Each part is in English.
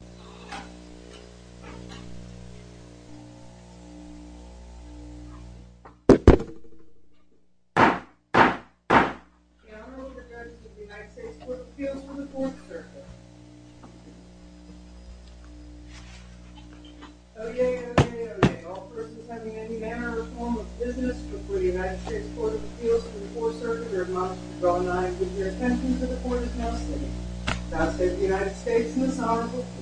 The Honorable Judge of the United States Court of Appeals for the Fourth Circuit. Oyez, oyez, oyez. All persons having any manner or form of business before the United States Court of Appeals for the Fourth Circuit are admonished to draw nigh with your attention to the court of custody. The Honorable Judge of the United States Court of Appeals for the Fourth Circuit.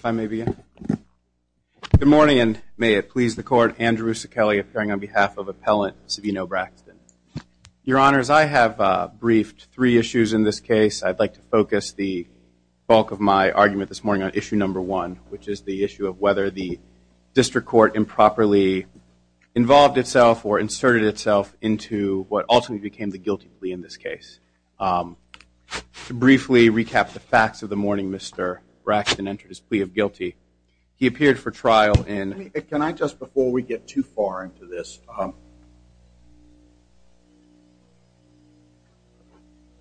If I may begin. Good morning, and may it please the court, Andrew Sacali appearing on behalf of Appellant Savino Braxton. Your Honors, I have briefed three issues in this case. I'd like to focus the bulk of my argument this morning on issue number one, which is the issue of whether the district court improperly involved itself or inserted itself into what ultimately became the guilty plea in this case. To briefly recap the facts of the morning, Mr. Braxton entered his plea of guilty. He appeared for trial in... Can I just, before we get too far into this,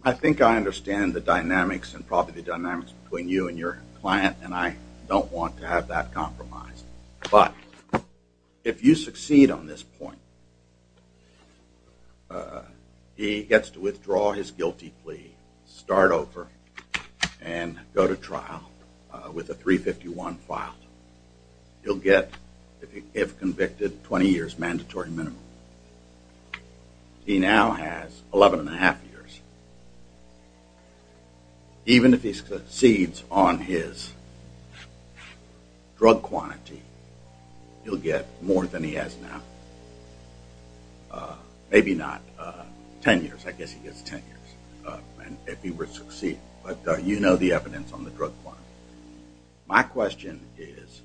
I think I understand the dynamics and probably the dynamics between you and your client, and I don't want to have that compromise. But, if you succeed on this point, he gets to withdraw his guilty plea, start over, and go to trial with a 351 filed. He'll get, if convicted, 20 years mandatory minimum. He now has 11 and a half years. Even if he succeeds on his drug quantity, he'll get more than he has now. Maybe not 10 years, I guess he gets 10 years if he were to succeed, but you know the evidence on the drug quantity. My question is,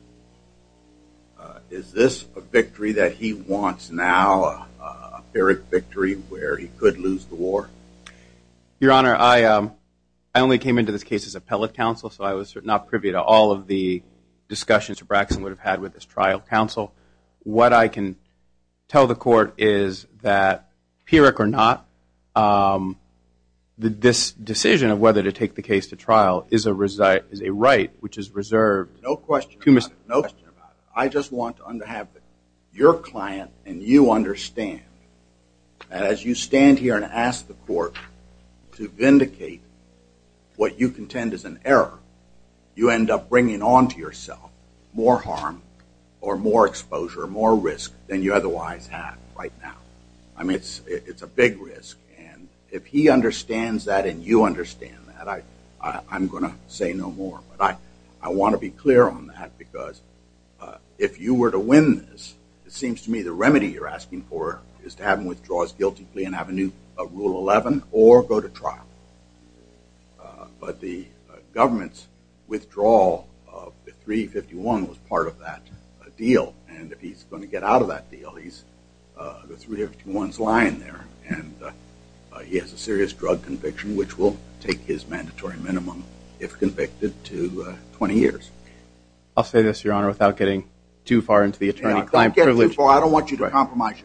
is this a victory that he wants now, a Pyrrhic victory where he could lose the war? Your Honor, I only came into this case as appellate counsel, so I was not privy to all of the discussions that Braxton would have had with his trial counsel. What I can tell the court is that, Pyrrhic or not, this decision of whether to take the case to trial is a right which is reserved... No question about it. I just want to have your client and you understand that as you stand here and ask the court to vindicate what you contend is an error, you end up bringing on to yourself more harm or more exposure, more risk than you otherwise have right now. I mean, it's a big risk and if he understands that and you understand that, I'm going to say no more. But I want to be clear on that because if you were to win this, it seems to me the remedy you're asking for is to have him withdraw his guilty plea and have a new Rule 11 or go to trial. But the government's withdrawal of the 351 was part of that deal and if he's going to get out of that deal, the 351's lying there. And he has a serious drug conviction which will take his mandatory minimum if convicted to 20 years. I'll say this, Your Honor, without getting too far into the attorney-client... Don't get too far. I don't want you to compromise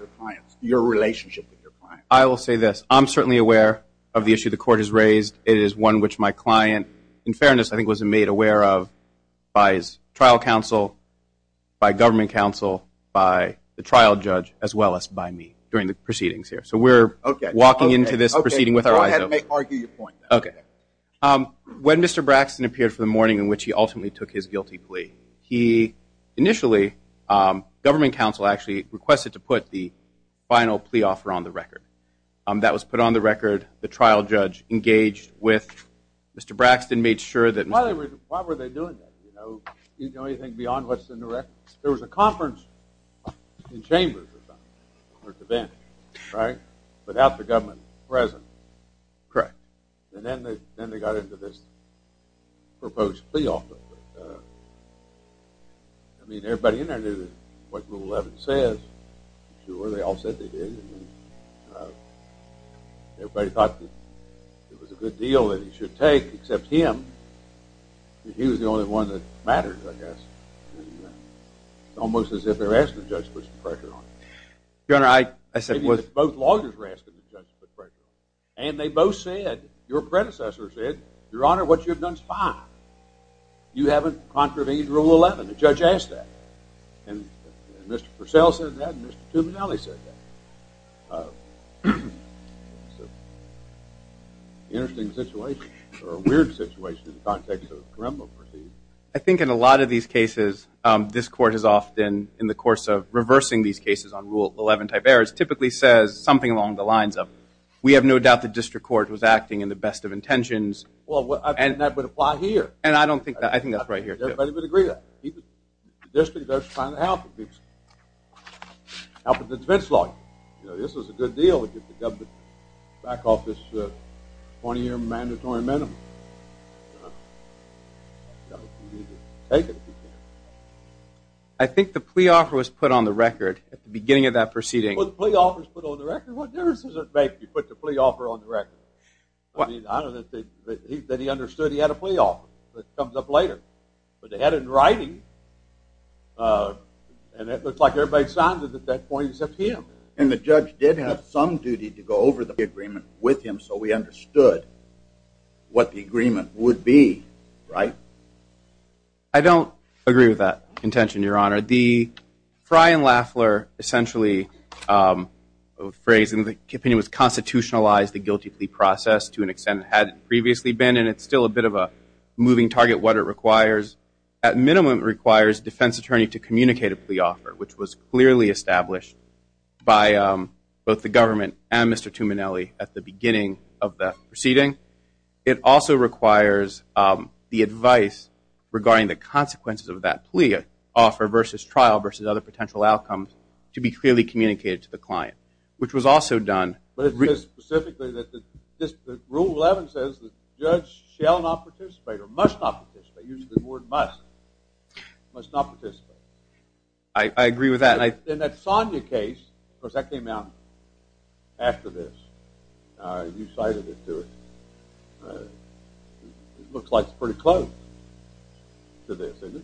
your relationship with your client. I will say this, I'm certainly aware of the issue the court has raised. It is one which my client, in fairness, I think was made aware of by his trial counsel, by government counsel, by the trial judge, as well as by me during the proceedings here. So we're walking into this proceeding with our eyes open. Go ahead and argue your point. Okay. When Mr. Braxton appeared for the morning in which he ultimately took his guilty plea, initially, government counsel actually requested to put the final plea offer on the record. That was put on the record, the trial judge engaged with Mr. Braxton, made sure that... Why were they doing that? Do you know anything beyond what's in the record? There was a conference in Chambers or something, or at the bench, right? Without the government present. Correct. And then they got into this proposed plea offer. I mean, everybody in there knew what Rule 11 says. Sure, they all said they did. Everybody thought that it was a good deal that he should take, except him. He was the only one that mattered, I guess. It's almost as if they were asking the judge to put some pressure on him. Your Honor, I said... Your predecessor said, Your Honor, what you've done is fine. You haven't contravened Rule 11. The judge asked that. And Mr. Purcell said that, and Mr. Tuminelli said that. It's an interesting situation, or a weird situation in the context of criminal proceedings. I think in a lot of these cases, this Court has often, in the course of reversing these cases on Rule 11 type errors, typically says something along the lines of, we have no doubt the District Court was acting in the best of intentions. Well, I think that would apply here. And I don't think that. I think that's right here, too. Everybody would agree that. The District Court's trying to help. Help with the defense law. You know, this was a good deal to get the government back off this 20-year mandatory amendment. You need to take it if you can. I think the plea offer was put on the record at the beginning of that proceeding. Well, the plea offer was put on the record. What difference does it make if you put the plea offer on the record? I mean, I don't know that he understood he had a plea offer. That comes up later. But they had it in writing, and it looked like everybody signed it at that point except him. And the judge did have some duty to go over the agreement with him so we understood what the agreement would be, right? I don't agree with that intention, Your Honor. The Frey and Laffler essentially phrasing the opinion was constitutionalized, the guilty plea process to an extent it had previously been, and it's still a bit of a moving target what it requires. At minimum, it requires a defense attorney to communicate a plea offer, which was clearly established by both the government and Mr. Tuminelli at the beginning of the proceeding. It also requires the advice regarding the consequences of that plea offer versus trial versus other potential outcomes to be clearly communicated to the client, which was also done. But it says specifically that Rule 11 says the judge shall not participate or must not participate. It uses the word must, must not participate. I agree with that. And that Sonia case, of course, that came out after this. You cited it to us. It looks like it's pretty close to this, isn't it?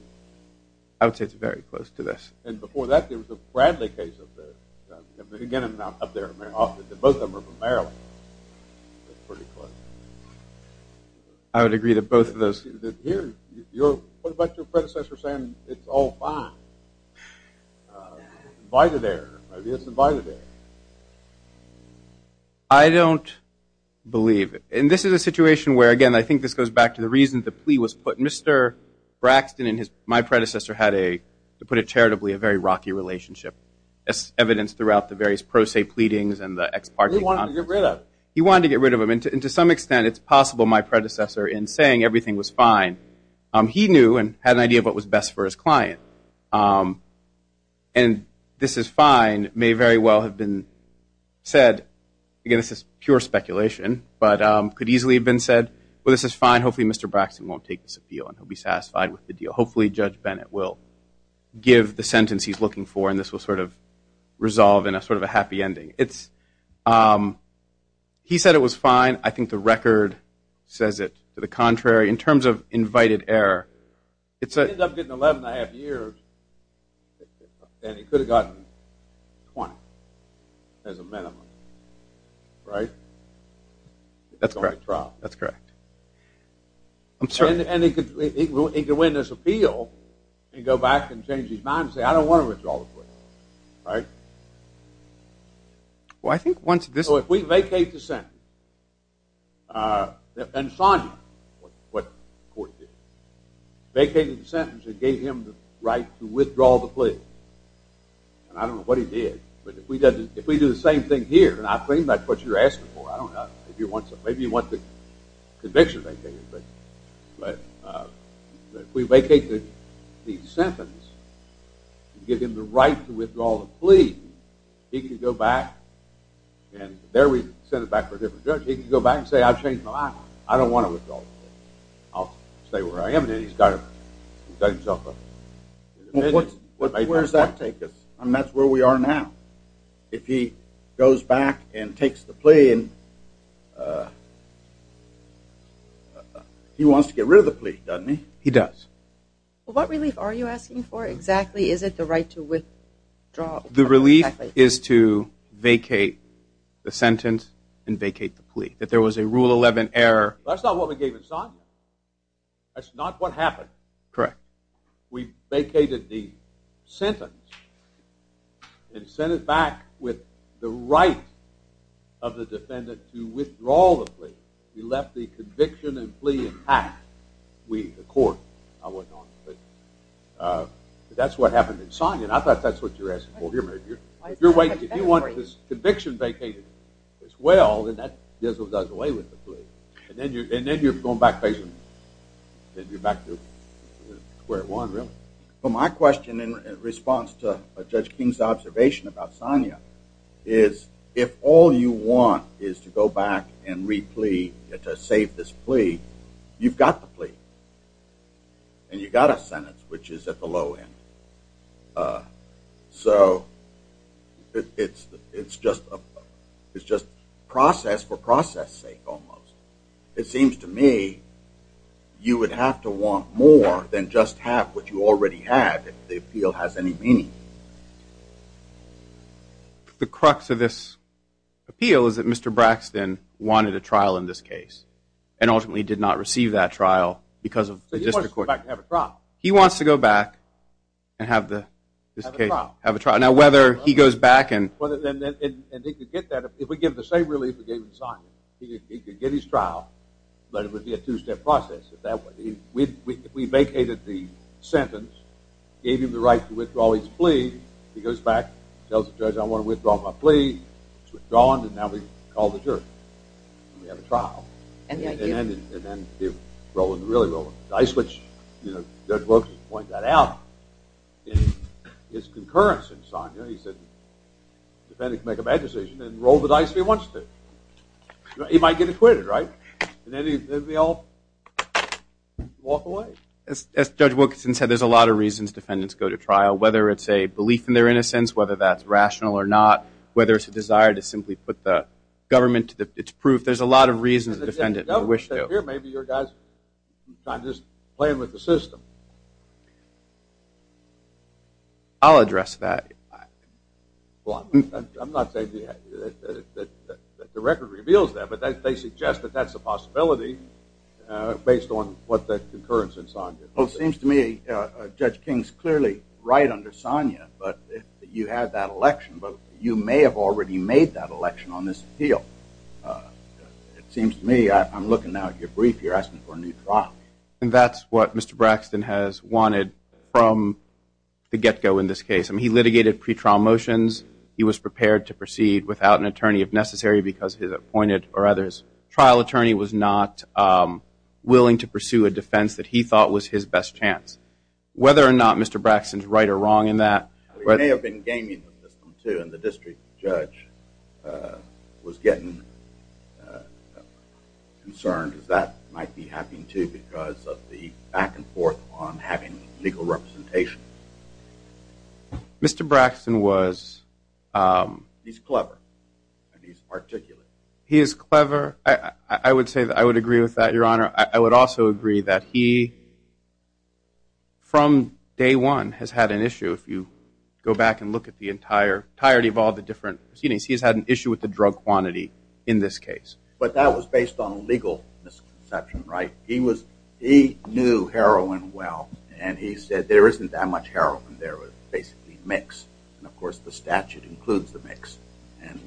I would say it's very close to this. And before that, there was a Bradley case of this. Again, I'm not up there. Both of them are from Maryland. They're pretty close. I would agree that both of those. What about your predecessor saying it's all fine? Invited error. Maybe it's invited error. I don't believe it. And this is a situation where, again, I think this goes back to the reason the plea was put. Mr. Braxton and my predecessor had, to put it charitably, a very rocky relationship, as evidenced throughout the various pro se pleadings and the ex parte conferences. He wanted to get rid of it. And to some extent, it's possible my predecessor, in saying everything was fine, he knew and had an idea of what was best for his client. And this is fine may very well have been said, again, this is pure speculation, but could easily have been said, well, this is fine. Hopefully Mr. Braxton won't take this appeal and he'll be satisfied with the deal. Hopefully Judge Bennett will give the sentence he's looking for and this will sort of resolve in a sort of a happy ending. He said it was fine. I think the record says it to the contrary. In terms of invited error, it's a- He ended up getting 11 and a half years and he could have gotten 20 as a minimum, right? That's correct. And he could win this appeal and go back and change his mind and say, I don't want to withdraw the plea, right? Well, I think once this- So if we vacate the sentence, and Sonja, what the court did, vacated the sentence and gave him the right to withdraw the plea, and I don't know what he did, but if we do the same thing here, and I think that's what you're asking for, I don't know, maybe you want the conviction vacated, but if we vacate the sentence and give him the right to withdraw the plea, he could go back and there we send it back for a different judge. He could go back and say, I've changed my mind. I don't want to withdraw the plea. I'll stay where I am. Then he's got himself a- Where does that take us? I mean, that's where we are now. If he goes back and takes the plea and he wants to get rid of the plea, doesn't he? He does. Well, what relief are you asking for exactly? Is it the right to withdraw? The relief is to vacate the sentence and vacate the plea, that there was a Rule 11 error. That's not what we gave Insonja. That's not what happened. Correct. We vacated the sentence and sent it back with the right of the defendant to withdraw the plea. We left the conviction and plea intact. We, the court, I wasn't on it, but that's what happened. Insonja, I thought that's what you were asking for. If you want this conviction vacated as well, then that gives us a way with the plea. And then you're going back to square one, really. My question in response to Judge King's observation about Insonja is, if all you want is to go back and re-plea to save this plea, you've got the plea. And you've got a sentence, which is at the low end. So it's just process for process's sake, almost. It seems to me you would have to want more than just have what you already have if the appeal has any meaning. The crux of this appeal is that Mr. Braxton wanted a trial in this case and ultimately did not receive that trial because of the district court. So he wants to go back and have a trial. He wants to go back and have the district case. Have a trial. Have a trial. Now, whether he goes back and... And he could get that if we give the same relief we gave Insonja. He could get his trial, but it would be a two-step process. If we vacated the sentence, gave him the right to withdraw his plea, he goes back, tells the judge I want to withdraw my plea, he's withdrawn, and now we call the jury. We have a trial. And then they roll the dice, which Judge Wilkins pointed that out. In his concurrence, Insonja, he said the defendant can make a bad decision and roll the dice if he wants to. He might get acquitted, right? And then we all walk away. As Judge Wilkinson said, there's a lot of reasons defendants go to trial, whether it's a belief in their innocence, whether that's rational or not, whether it's a desire to simply put the government to its proof. There's a lot of reasons a defendant would wish to. Maybe your guys are just playing with the system. I'll address that. I'm not saying that the record reveals that, but they suggest that that's a possibility based on what the concurrence Insonja did. Well, it seems to me Judge King's clearly right under Insonja, but you had that election, but you may have already made that election on this appeal. It seems to me, I'm looking now at your brief, you're asking for a new trial. And that's what Mr. Braxton has wanted from the get-go in this case. I mean, he litigated pretrial motions. He was prepared to proceed without an attorney if necessary because his appointed or others. Trial attorney was not willing to pursue a defense that he thought was his best chance. Whether or not Mr. Braxton's right or wrong in that. He may have been gaming with the system, too, and the district judge was getting concerned that that might be happening, too, because of the back and forth on having legal representation. Mr. Braxton was. He's clever, and he's articulate. He is clever. I would agree with that, Your Honor. I would also agree that he, from day one, has had an issue. If you go back and look at the entirety of all the different proceedings, he's had an issue with the drug quantity in this case. But that was based on a legal misconception, right? He knew heroin well, and he said there isn't that much heroin there. It's basically a mix. And, of course, the statute includes the mix, and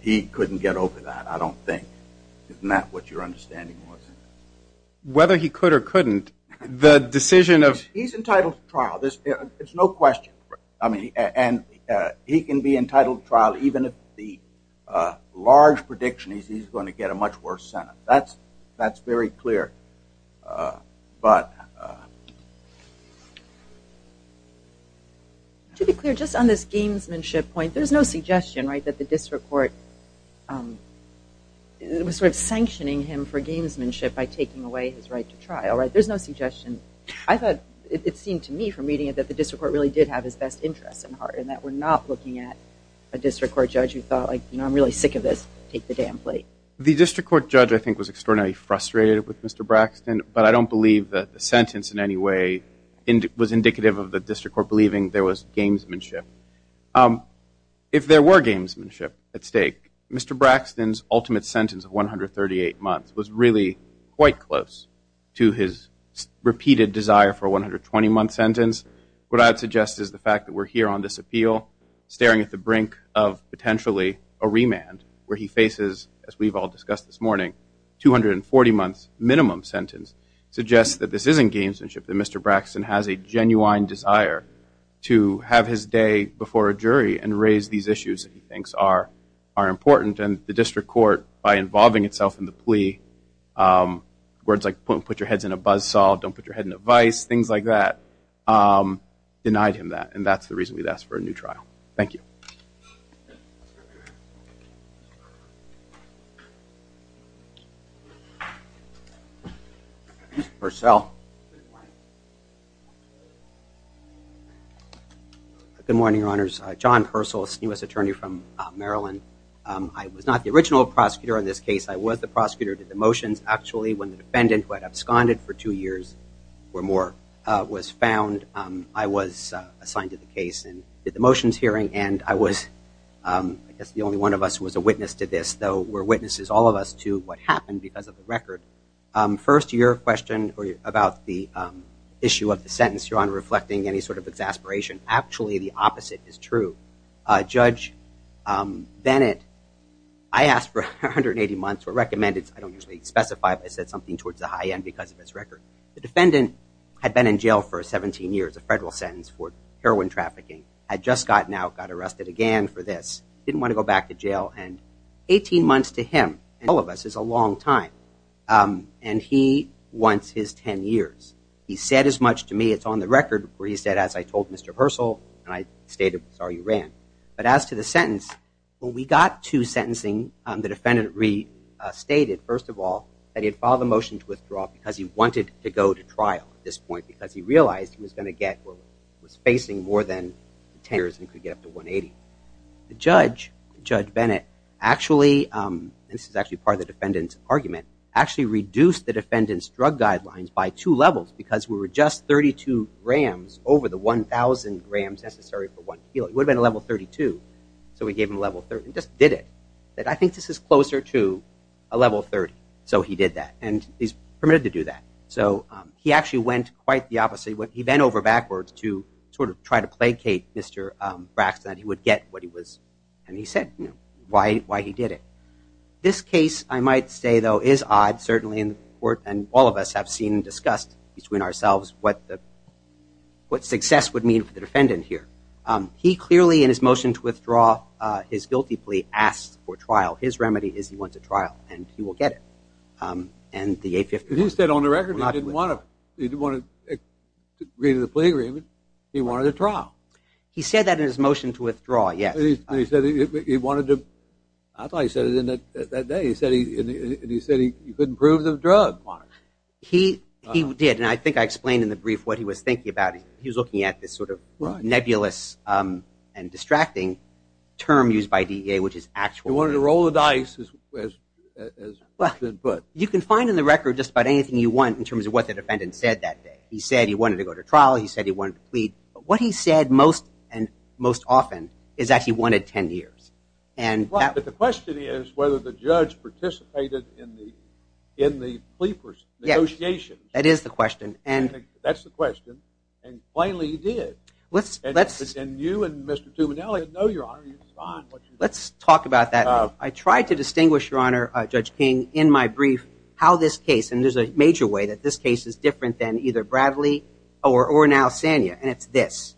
he couldn't get over that, I don't think. Isn't that what your understanding was? Whether he could or couldn't, the decision of – He's entitled to trial. It's no question. And he can be entitled to trial even if the large prediction is he's going to get a much worse sentence. That's very clear. To be clear, just on this gamesmanship point, there's no suggestion that the district court was sort of sanctioning him for gamesmanship by taking away his right to trial, right? There's no suggestion. It seemed to me from reading it that the district court really did have his best interests at heart and that we're not looking at a district court judge who thought, you know, I'm really sick of this, take the damn plate. The district court judge, I think, was extraordinarily frustrated with Mr. Braxton, but I don't believe that the sentence in any way was indicative of the district court believing there was gamesmanship. If there were gamesmanship at stake, Mr. Braxton's ultimate sentence of 138 months was really quite close to his repeated desire for a 120-month sentence. What I would suggest is the fact that we're here on this appeal, staring at the brink of potentially a remand where he faces, as we've all discussed this morning, 240 months minimum sentence suggests that this isn't gamesmanship, that Mr. Braxton has a genuine desire to have his day before a jury and raise these issues that he thinks are important, and the district court, by involving itself in the plea, words like put your heads in a buzzsaw, don't put your head in a vice, things like that, denied him that, and that's the reason we'd ask for a new trial. Thank you. Mr. Purcell. Good morning, Your Honors. John Purcell, a senior U.S. attorney from Maryland. I was not the original prosecutor on this case. I was the prosecutor who did the motions. Actually, when the defendant, who had absconded for two years or more, was found, I was assigned to the case and did the motions hearing, and I guess the only one of us was a witness to this, though we're witnesses, all of us, to what happened because of the record. First, your question about the issue of the sentence, your honor, reflecting any sort of exasperation. Actually, the opposite is true. Judge Bennett, I asked for 180 months, or recommended, I don't usually specify, but I said something towards the high end because of his record. The defendant had been in jail for 17 years, a federal sentence for heroin trafficking, had just gotten out, got arrested again for this, didn't want to go back to jail, and 18 months to him, all of us, is a long time. And he wants his 10 years. He said as much to me, it's on the record, where he said, as I told Mr. Purcell, and I stated, sorry, you ran. But as to the sentence, when we got to sentencing, the defendant restated, first of all, that he had filed a motion to withdraw because he wanted to go to trial at this point because he realized he was going to get, was facing more than 10 years and could get up to 180. The judge, Judge Bennett, actually, this is actually part of the defendant's argument, actually reduced the defendant's drug guidelines by two levels because we were just 32 grams over the 1,000 grams necessary for one pill. It would have been a level 32. So we gave him a level 30, just did it. I think this is closer to a level 30. So he did that. And he's permitted to do that. So he actually went quite the opposite. He bent over backwards to sort of try to placate Mr. Braxton that he would get what he was, and he said why he did it. This case, I might say, though, is odd, certainly in the court, and all of us have seen and discussed between ourselves what success would mean for the defendant here. He clearly, in his motion to withdraw his guilty plea, asked for trial. His remedy is he went to trial, and he will get it. He said on the record he didn't want to agree to the plea agreement. He wanted a trial. He said that in his motion to withdraw, yes. He said he wanted to. I thought he said it that day. He said he couldn't prove the drug. He did, and I think I explained in the brief what he was thinking about. He was looking at this sort of nebulous and distracting term used by DEA, which is actual. He wanted to roll the dice, as has been put. You can find in the record just about anything you want in terms of what the defendant said that day. He said he wanted to go to trial. He said he wanted to plead. But what he said most and most often is that he wanted 10 years. But the question is whether the judge participated in the FLEAPers negotiations. Yes, that is the question. That's the question, and plainly he did. And you and Mr. Tuminelli know, Your Honor, you signed what you did. Let's talk about that. I tried to distinguish, Your Honor, Judge King, in my brief, how this case, and there's a major way that this case is different than either Bradley or now Sanya, and it's this.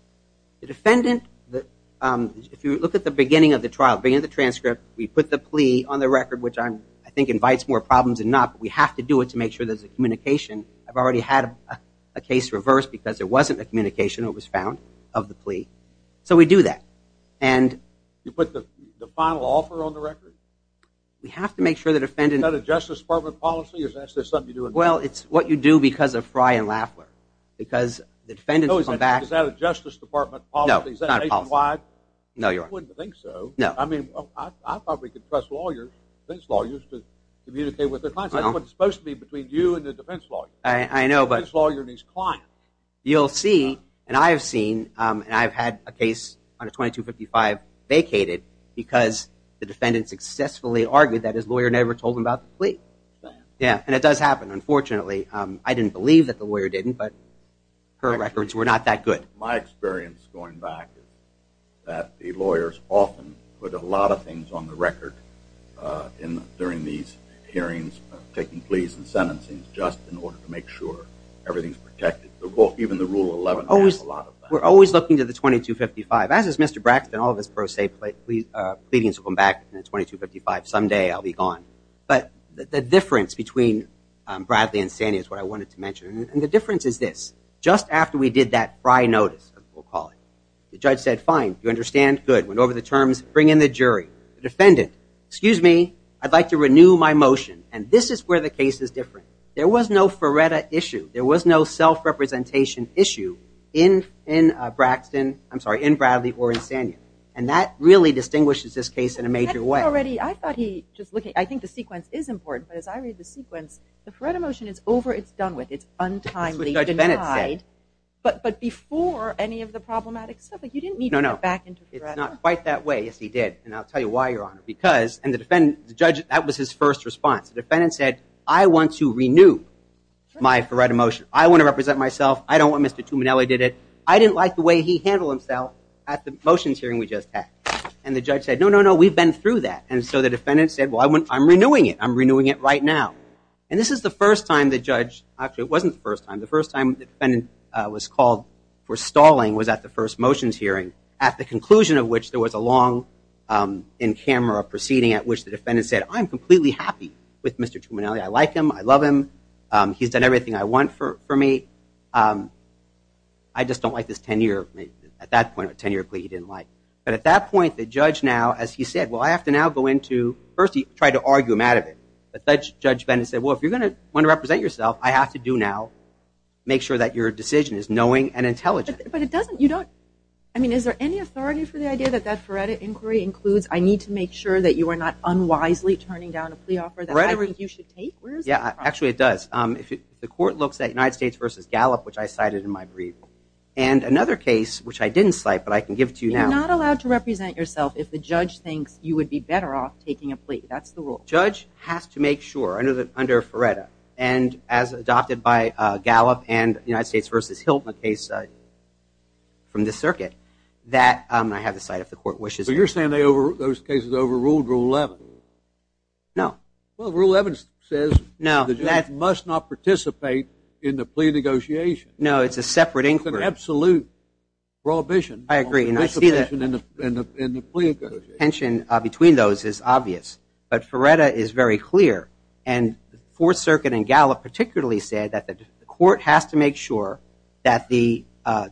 The defendant, if you look at the beginning of the trial, beginning of the transcript, we put the plea on the record, which I think invites more problems than not, but we have to do it to make sure there's a communication. I've already had a case reversed because there wasn't a communication that was found of the plea. So we do that. You put the final offer on the record? We have to make sure the defendant Is that a Justice Department policy? Is that something you do? Well, it's what you do because of Fry and Laffler. Is that a Justice Department policy? No, it's not a policy. Is that nationwide? No, Your Honor. I wouldn't think so. I mean, I probably could trust lawyers, defense lawyers, to communicate with their clients. That's what it's supposed to be between you and the defense lawyer. I know, but The defense lawyer needs clients. You'll see, and I've seen, and I've had a case on a 2255 vacated because the defendant successfully argued that his lawyer never told him about the plea. And it does happen, unfortunately. I didn't believe that the lawyer didn't, but her records were not that good. My experience going back is that the lawyers often put a lot of things on the record during these hearings, taking pleas and sentencing, just in order to make sure everything's protected. Even the Rule 11 has a lot of that. We're always looking to the 2255. As is Mr. Braxton, all of his pros say, pleadings will come back in the 2255. Someday I'll be gone. But the difference between Bradley and Sania is what I wanted to mention. And the difference is this. Just after we did that Fry notice, we'll call it, the judge said, fine, you understand, good. Went over the terms, bring in the jury. The defendant, excuse me, I'd like to renew my motion. And this is where the case is different. There was no Faretta issue. There was no self-representation issue in Braxton, I'm sorry, in Bradley or in Sania. And that really distinguishes this case in a major way. I thought he, I think the sequence is important. But as I read the sequence, the Faretta motion is over, it's done with. It's untimely denied. But before any of the problematic stuff, you didn't need to get back into Faretta. No, no. Yes, he did. And I'll tell you why, Your Honor. Because, and the judge, that was his first response. The defendant said, I want to renew my Faretta motion. I want to represent myself. I don't want Mr. Tuminelli did it. I didn't like the way he handled himself at the motions hearing we just had. And the judge said, no, no, no, we've been through that. And so the defendant said, well, I'm renewing it. I'm renewing it right now. And this is the first time the judge, actually it wasn't the first time, the first time the defendant was called for stalling was at the first motions hearing, at the conclusion of which there was a long in-camera proceeding at which the defendant said, I'm completely happy with Mr. Tuminelli. I like him. I love him. He's done everything I want for me. I just don't like this tenure. At that point, a tenure plea he didn't like. But at that point, the judge now, as he said, well, I have to now go into, first he tried to argue him out of it. But Judge Bennett said, well, if you're going to want to represent yourself, I have to do now, make sure that your decision is knowing and intelligent. But it doesn't, you don't. I mean, is there any authority for the idea that that Feretta inquiry includes, I need to make sure that you are not unwisely turning down a plea offer that I think you should take? Yeah, actually it does. The court looks at United States v. Gallup, which I cited in my brief, and another case which I didn't cite but I can give to you now. You're not allowed to represent yourself if the judge thinks you would be better off taking a plea. That's the rule. Judge has to make sure, under Feretta, and as adopted by Gallup and United States v. Hiltman case from the circuit, that I have the site if the court wishes. So you're saying those cases overruled Rule 11? No. Well, Rule 11 says the judge must not participate in the plea negotiation. No, it's a separate inquiry. It's an absolute prohibition on participation in the plea negotiation. The tension between those is obvious. But Feretta is very clear. And the Fourth Circuit and Gallup particularly said that the court has to make sure that the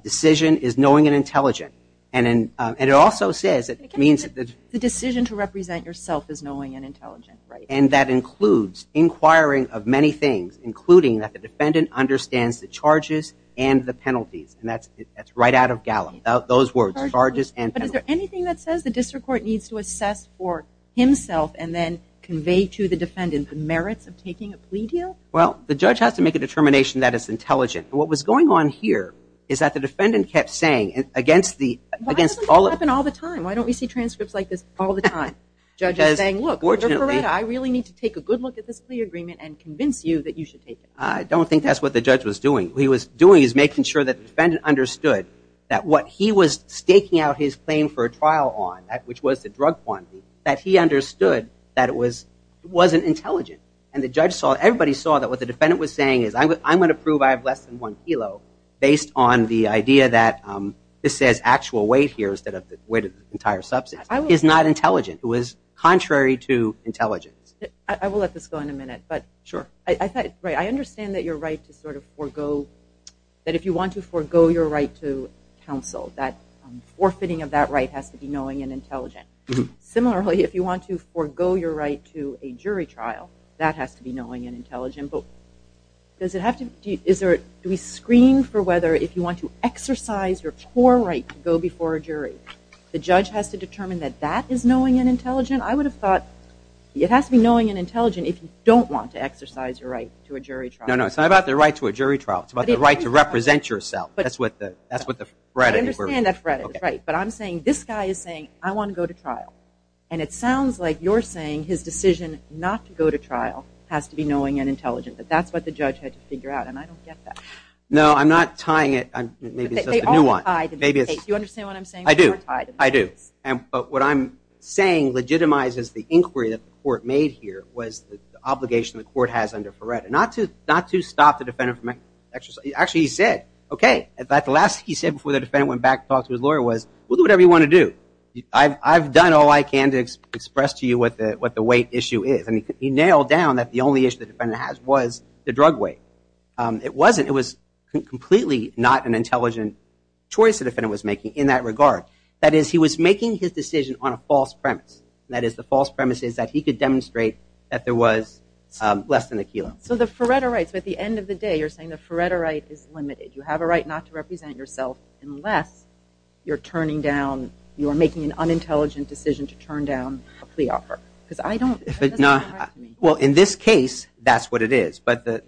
decision is knowing and intelligent. And it also says it means that the decision to represent yourself is knowing and intelligent. And that includes inquiring of many things, including that the defendant understands the charges and the penalties. And that's right out of Gallup, those words, charges and penalties. But is there anything that says the district court needs to assess for himself and then convey to the defendant the merits of taking a plea deal? Well, the judge has to make a determination that it's intelligent. And what was going on here is that the defendant kept saying against the ‑‑ Why does this happen all the time? Why don't we see transcripts like this all the time? Judge is saying, look, under Feretta, I really need to take a good look at this plea agreement and convince you that you should take it. I don't think that's what the judge was doing. What he was doing is making sure that the defendant understood that what he was staking out his claim for a trial on, which was the drug quantity, that he understood that it wasn't intelligent. And the judge saw, everybody saw that what the defendant was saying is I'm going to prove I have less than one kilo based on the idea that this says actual weight here instead of the weight of the entire substance. It's not intelligent. It was contrary to intelligence. I will let this go in a minute. But I understand that your right to sort of forego, that if you want to forego your right to counsel, that forfeiting of that right has to be knowing and intelligent. Similarly, if you want to forego your right to a jury trial, that has to be knowing and intelligent. But does it have to ‑‑ do we screen for whether if you want to exercise your core right to go before a jury, the judge has to determine that that is knowing and intelligent? I would have thought it has to be knowing and intelligent if you don't want to exercise your right to a jury trial. No, no, it's not about the right to a jury trial. It's about the right to represent yourself. That's what the ‑‑ I understand that. But I'm saying this guy is saying I want to go to trial. And it sounds like you're saying his decision not to go to trial has to be knowing and intelligent. But that's what the judge had to figure out. And I don't get that. No, I'm not tying it. Maybe it's just a new one. You understand what I'm saying? I do. I do. But what I'm saying legitimizes the inquiry that the court made here was the obligation the court has under FARETA. Not to stop the defendant from exercising. Actually, he said, okay. The last thing he said before the defendant went back to talk to his lawyer was, do whatever you want to do. I've done all I can to express to you what the weight issue is. And he nailed down that the only issue the defendant has was the drug weight. It wasn't. It was completely not an intelligent choice the defendant was making in that regard. That is, he was making his decision on a false premise. That is, the false premise is that he could demonstrate that there was less than a kilo. So the FARETA rights, at the end of the day, you're saying the FARETA right is limited. You have a right not to represent yourself unless you're turning down, you're making an unintelligent decision to turn down a plea offer. Because I don't, that doesn't happen to me. Well, in this case, that's what it is. But the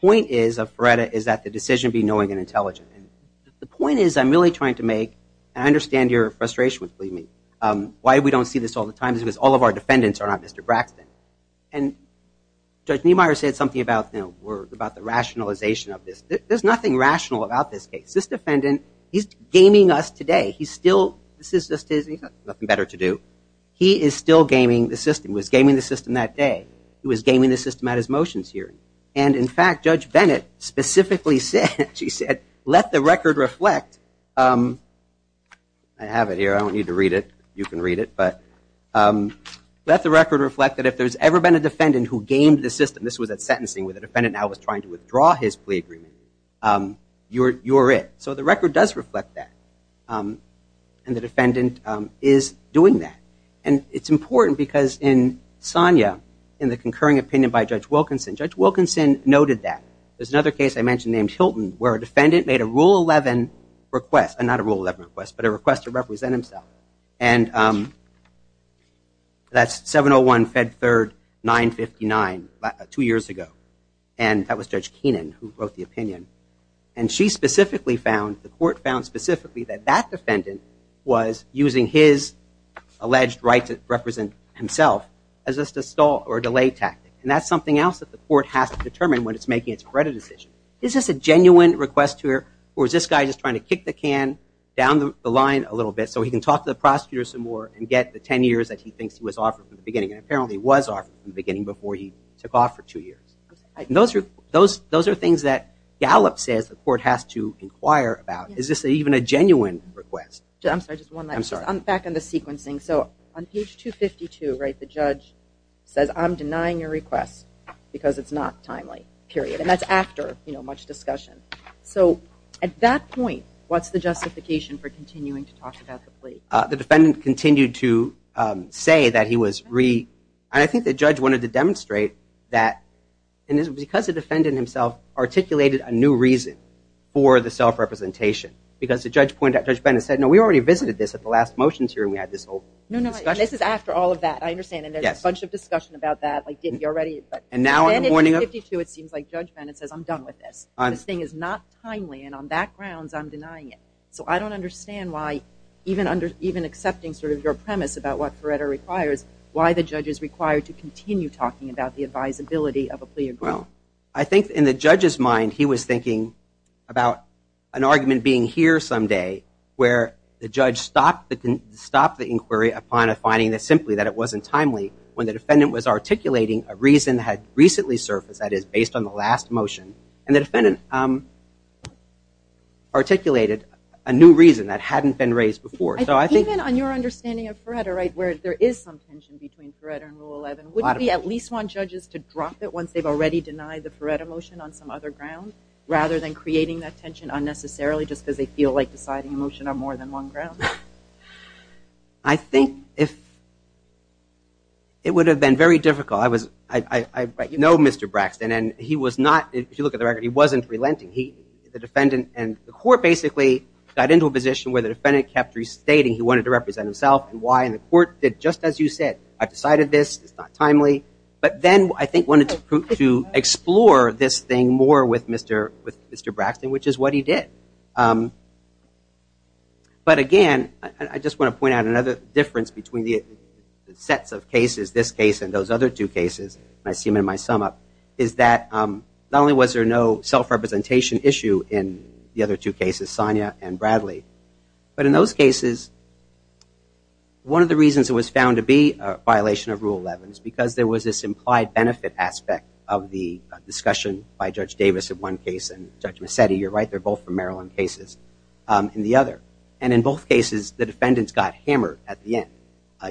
point is, of FARETA, is that the decision be knowing and intelligent. The point is, I'm really trying to make, and I understand your frustration with me. Why we don't see this all the time is because all of our defendants are not Mr. Braxton. And Judge Niemeyer said something about the rationalization of this. There's nothing rational about this case. This defendant, he's gaming us today. He's still, this is just his, he's got nothing better to do. He is still gaming the system. He was gaming the system that day. He was gaming the system at his motions hearing. And, in fact, Judge Bennett specifically said, she said, let the record reflect. I have it here. I don't need to read it. You can read it. But let the record reflect that if there's ever been a defendant who gamed the system, this was at sentencing where the defendant now was trying to withdraw his plea agreement, you're it. So the record does reflect that. And the defendant is doing that. And it's important because in Sonia, in the concurring opinion by Judge Wilkinson, Judge Wilkinson noted that. There's another case I mentioned named Hilton where a defendant made a Rule 11 request, not a Rule 11 request, but a request to represent himself. And that's 701 Fed 3rd 959, two years ago. And that was Judge Keenan who wrote the opinion. And she specifically found, the court found specifically, that that defendant was using his alleged right to represent himself as just a stall or delay tactic. And that's something else that the court has to determine when it's making its credit decision. Is this a genuine request to her or is this guy just trying to kick the can down the line a little bit so he can talk to the prosecutor some more and get the ten years that he thinks he was offered from the beginning? And apparently he was offered from the beginning before he took off for two years. Those are things that Gallup says the court has to inquire about. Is this even a genuine request? I'm sorry, just one last question. I'm back on the sequencing. So on page 252, right, the judge says, I'm denying your request because it's not timely, period. And that's after, you know, much discussion. So at that point, what's the justification for continuing to talk about the plea? The defendant continued to say that he was re- and I think the judge wanted to demonstrate that because the defendant himself articulated a new reason for the self-representation, because the judge pointed out, Judge Bennett said, no, we already visited this at the last motions here and we had this whole discussion. No, no, this is after all of that. I understand. And there's a bunch of discussion about that, like, did he already? And now in the morning of- This thing is not timely, and on that grounds, I'm denying it. So I don't understand why, even accepting sort of your premise about what Feretta requires, why the judge is required to continue talking about the advisability of a plea agreement. Well, I think in the judge's mind, he was thinking about an argument being here someday where the judge stopped the inquiry upon a finding that simply that it wasn't timely when the defendant was articulating a reason that had recently surfaced, that is based on the last motion. And the defendant articulated a new reason that hadn't been raised before. Even on your understanding of Feretta, right, where there is some tension between Feretta and Rule 11, wouldn't we at least want judges to drop it once they've already denied the Feretta motion on some other ground rather than creating that tension unnecessarily just because they feel like deciding a motion on more than one ground? I think it would have been very difficult. I know Mr. Braxton, and he was not, if you look at the record, he wasn't relenting. The defendant and the court basically got into a position where the defendant kept restating he wanted to represent himself and why, and the court did just as you said. I've decided this, it's not timely. But then I think wanted to explore this thing more with Mr. Braxton, which is what he did. But again, I just want to point out another difference between the sets of cases, this case and those other two cases, and I see them in my sum up, is that not only was there no self-representation issue in the other two cases, Sonia and Bradley, but in those cases, one of the reasons it was found to be a violation of Rule 11 is because there was this implied benefit aspect of the discussion by Judge Davis in one case and Judge Massetti, you're right, they're both from Maryland cases, in the other. And in both cases, the defendants got hammered at the end.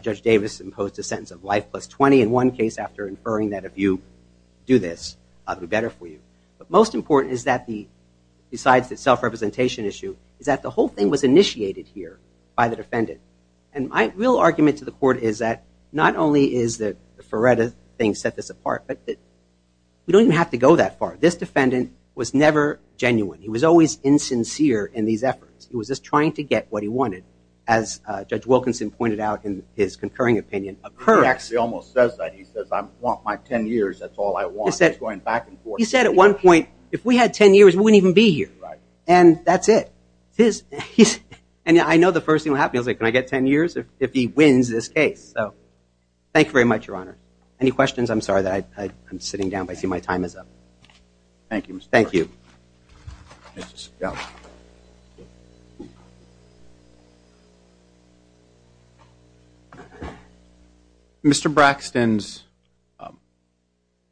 Judge Davis imposed a sentence of life plus 20 in one case after inferring that if you do this, I'll do better for you. But most important is that, besides the self-representation issue, is that the whole thing was initiated here by the defendant. And my real argument to the court is that not only is the Ferretta thing set this apart, but we don't even have to go that far. This defendant was never genuine. He was always insincere in these efforts. He was just trying to get what he wanted, as Judge Wilkinson pointed out in his concurring opinion. He almost says that. He says, I want my 10 years. That's all I want. He's going back and forth. He said at one point, if we had 10 years, we wouldn't even be here. Right. And that's it. And I know the first thing that will happen, he'll say, can I get 10 years if he wins this case? So thank you very much, Your Honor. Any questions? I'm sorry that I'm sitting down, but I see my time is up. Thank you, Mr. Ferretta. Thank you. Yeah. Mr. Braxton's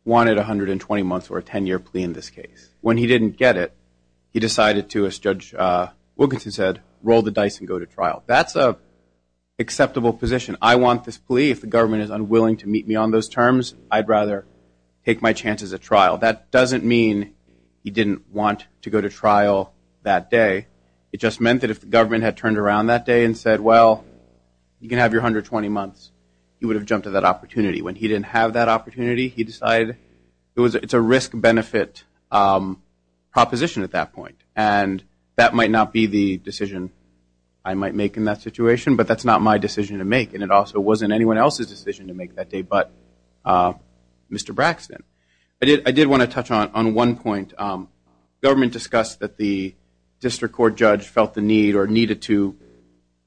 wanted 120 months or a 10-year plea in this case. When he didn't get it, he decided to, as Judge Wilkinson said, roll the dice and go to trial. That's an acceptable position. I want this plea. If the government is unwilling to meet me on those terms, I'd rather take my chance as a trial. That doesn't mean he didn't want to go to trial that day. It just meant that if the government had turned around that day and said, well, you can have your 120 months, he would have jumped at that opportunity. When he didn't have that opportunity, he decided it's a risk-benefit proposition at that point, and that might not be the decision I might make in that situation, but that's not my decision to make, and it also wasn't anyone else's decision to make that day but Mr. Braxton. I did want to touch on one point. The government discussed that the district court judge felt the need or needed to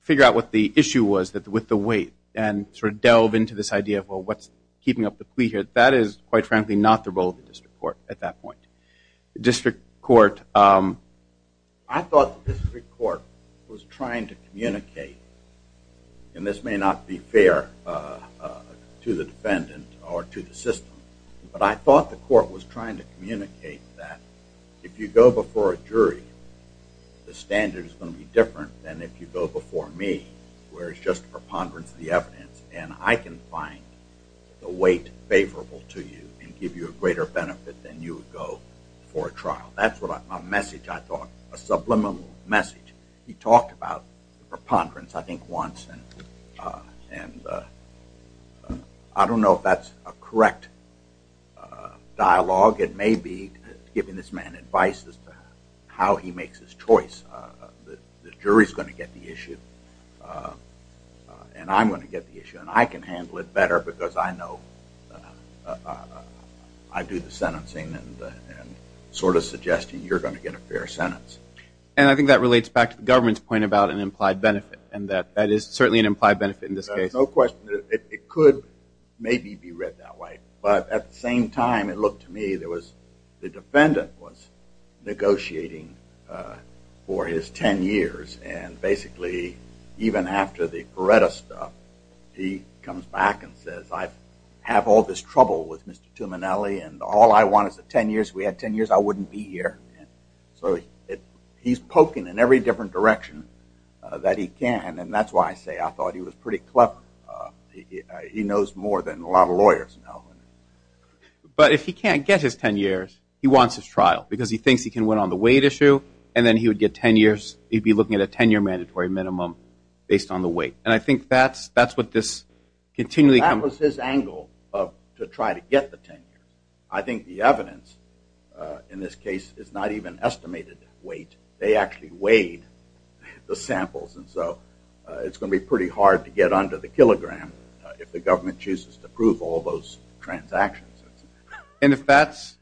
figure out what the issue was with the wait and sort of delve into this idea of, well, what's keeping up the plea here? That is, quite frankly, not the role of the district court at that point. The district court, I thought the district court was trying to communicate, and this may not be fair to the defendant or to the system, but I thought the court was trying to communicate that if you go before a jury, the standard is going to be different than if you go before me, where it's just a preponderance of the evidence, and I can find the wait favorable to you and give you a greater benefit than you would go for a trial. That's my message, I thought, a subliminal message. He talked about preponderance, I think, once, and I don't know if that's a correct dialogue. It may be giving this man advice as to how he makes his choice. The jury is going to get the issue, and I'm going to get the issue, and I can handle it better because I know I do the sentencing and sort of suggesting you're going to get a fair sentence. And I think that relates back to the government's point about an implied benefit, and that is certainly an implied benefit in this case. No question. It could maybe be read that way, but at the same time, it looked to me, the defendant was negotiating for his ten years, and basically, even after the Beretta stuff, he comes back and says, I have all this trouble with Mr. Tuminelli, and all I want is a ten years. If we had ten years, I wouldn't be here. So he's poking in every different direction that he can, and that's why I say I thought he was pretty clever. He knows more than a lot of lawyers. But if he can't get his ten years, he wants his trial because he thinks he can win on the weight issue, and then he would get ten years. He'd be looking at a ten-year mandatory minimum based on the weight, and I think that's what this continually comes to. That was his angle to try to get the ten years. I think the evidence in this case is not even estimated weight. They actually weighed the samples, and so it's going to be pretty hard to get under the kilogram if the government chooses to prove all those transactions. And if that's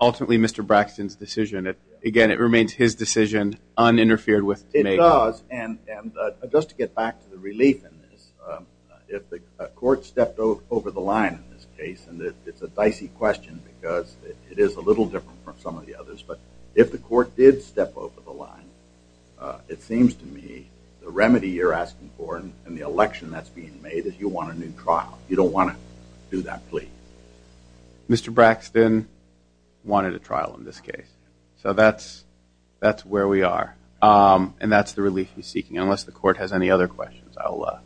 ultimately Mr. Braxton's decision, again, it remains his decision, uninterfered with Tuminelli. It does, and just to get back to the relief in this, if the court stepped over the line in this case, and it's a dicey question because it is a little different from some of the others, but if the court did step over the line, it seems to me the remedy you're asking for and the election that's being made is you want a new trial. You don't want to do that plea. Mr. Braxton wanted a trial in this case. Unless the court has any other questions. I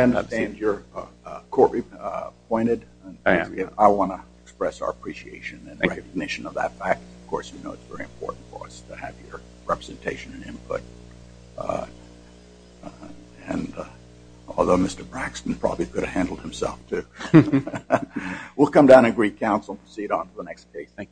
understand you're court-appointed. I want to express our appreciation and recognition of that fact. Of course, you know it's very important for us to have your representation and input. And although Mr. Braxton probably could have handled himself, too. We'll come down and greet counsel and proceed on to the next case. Thank you. All done.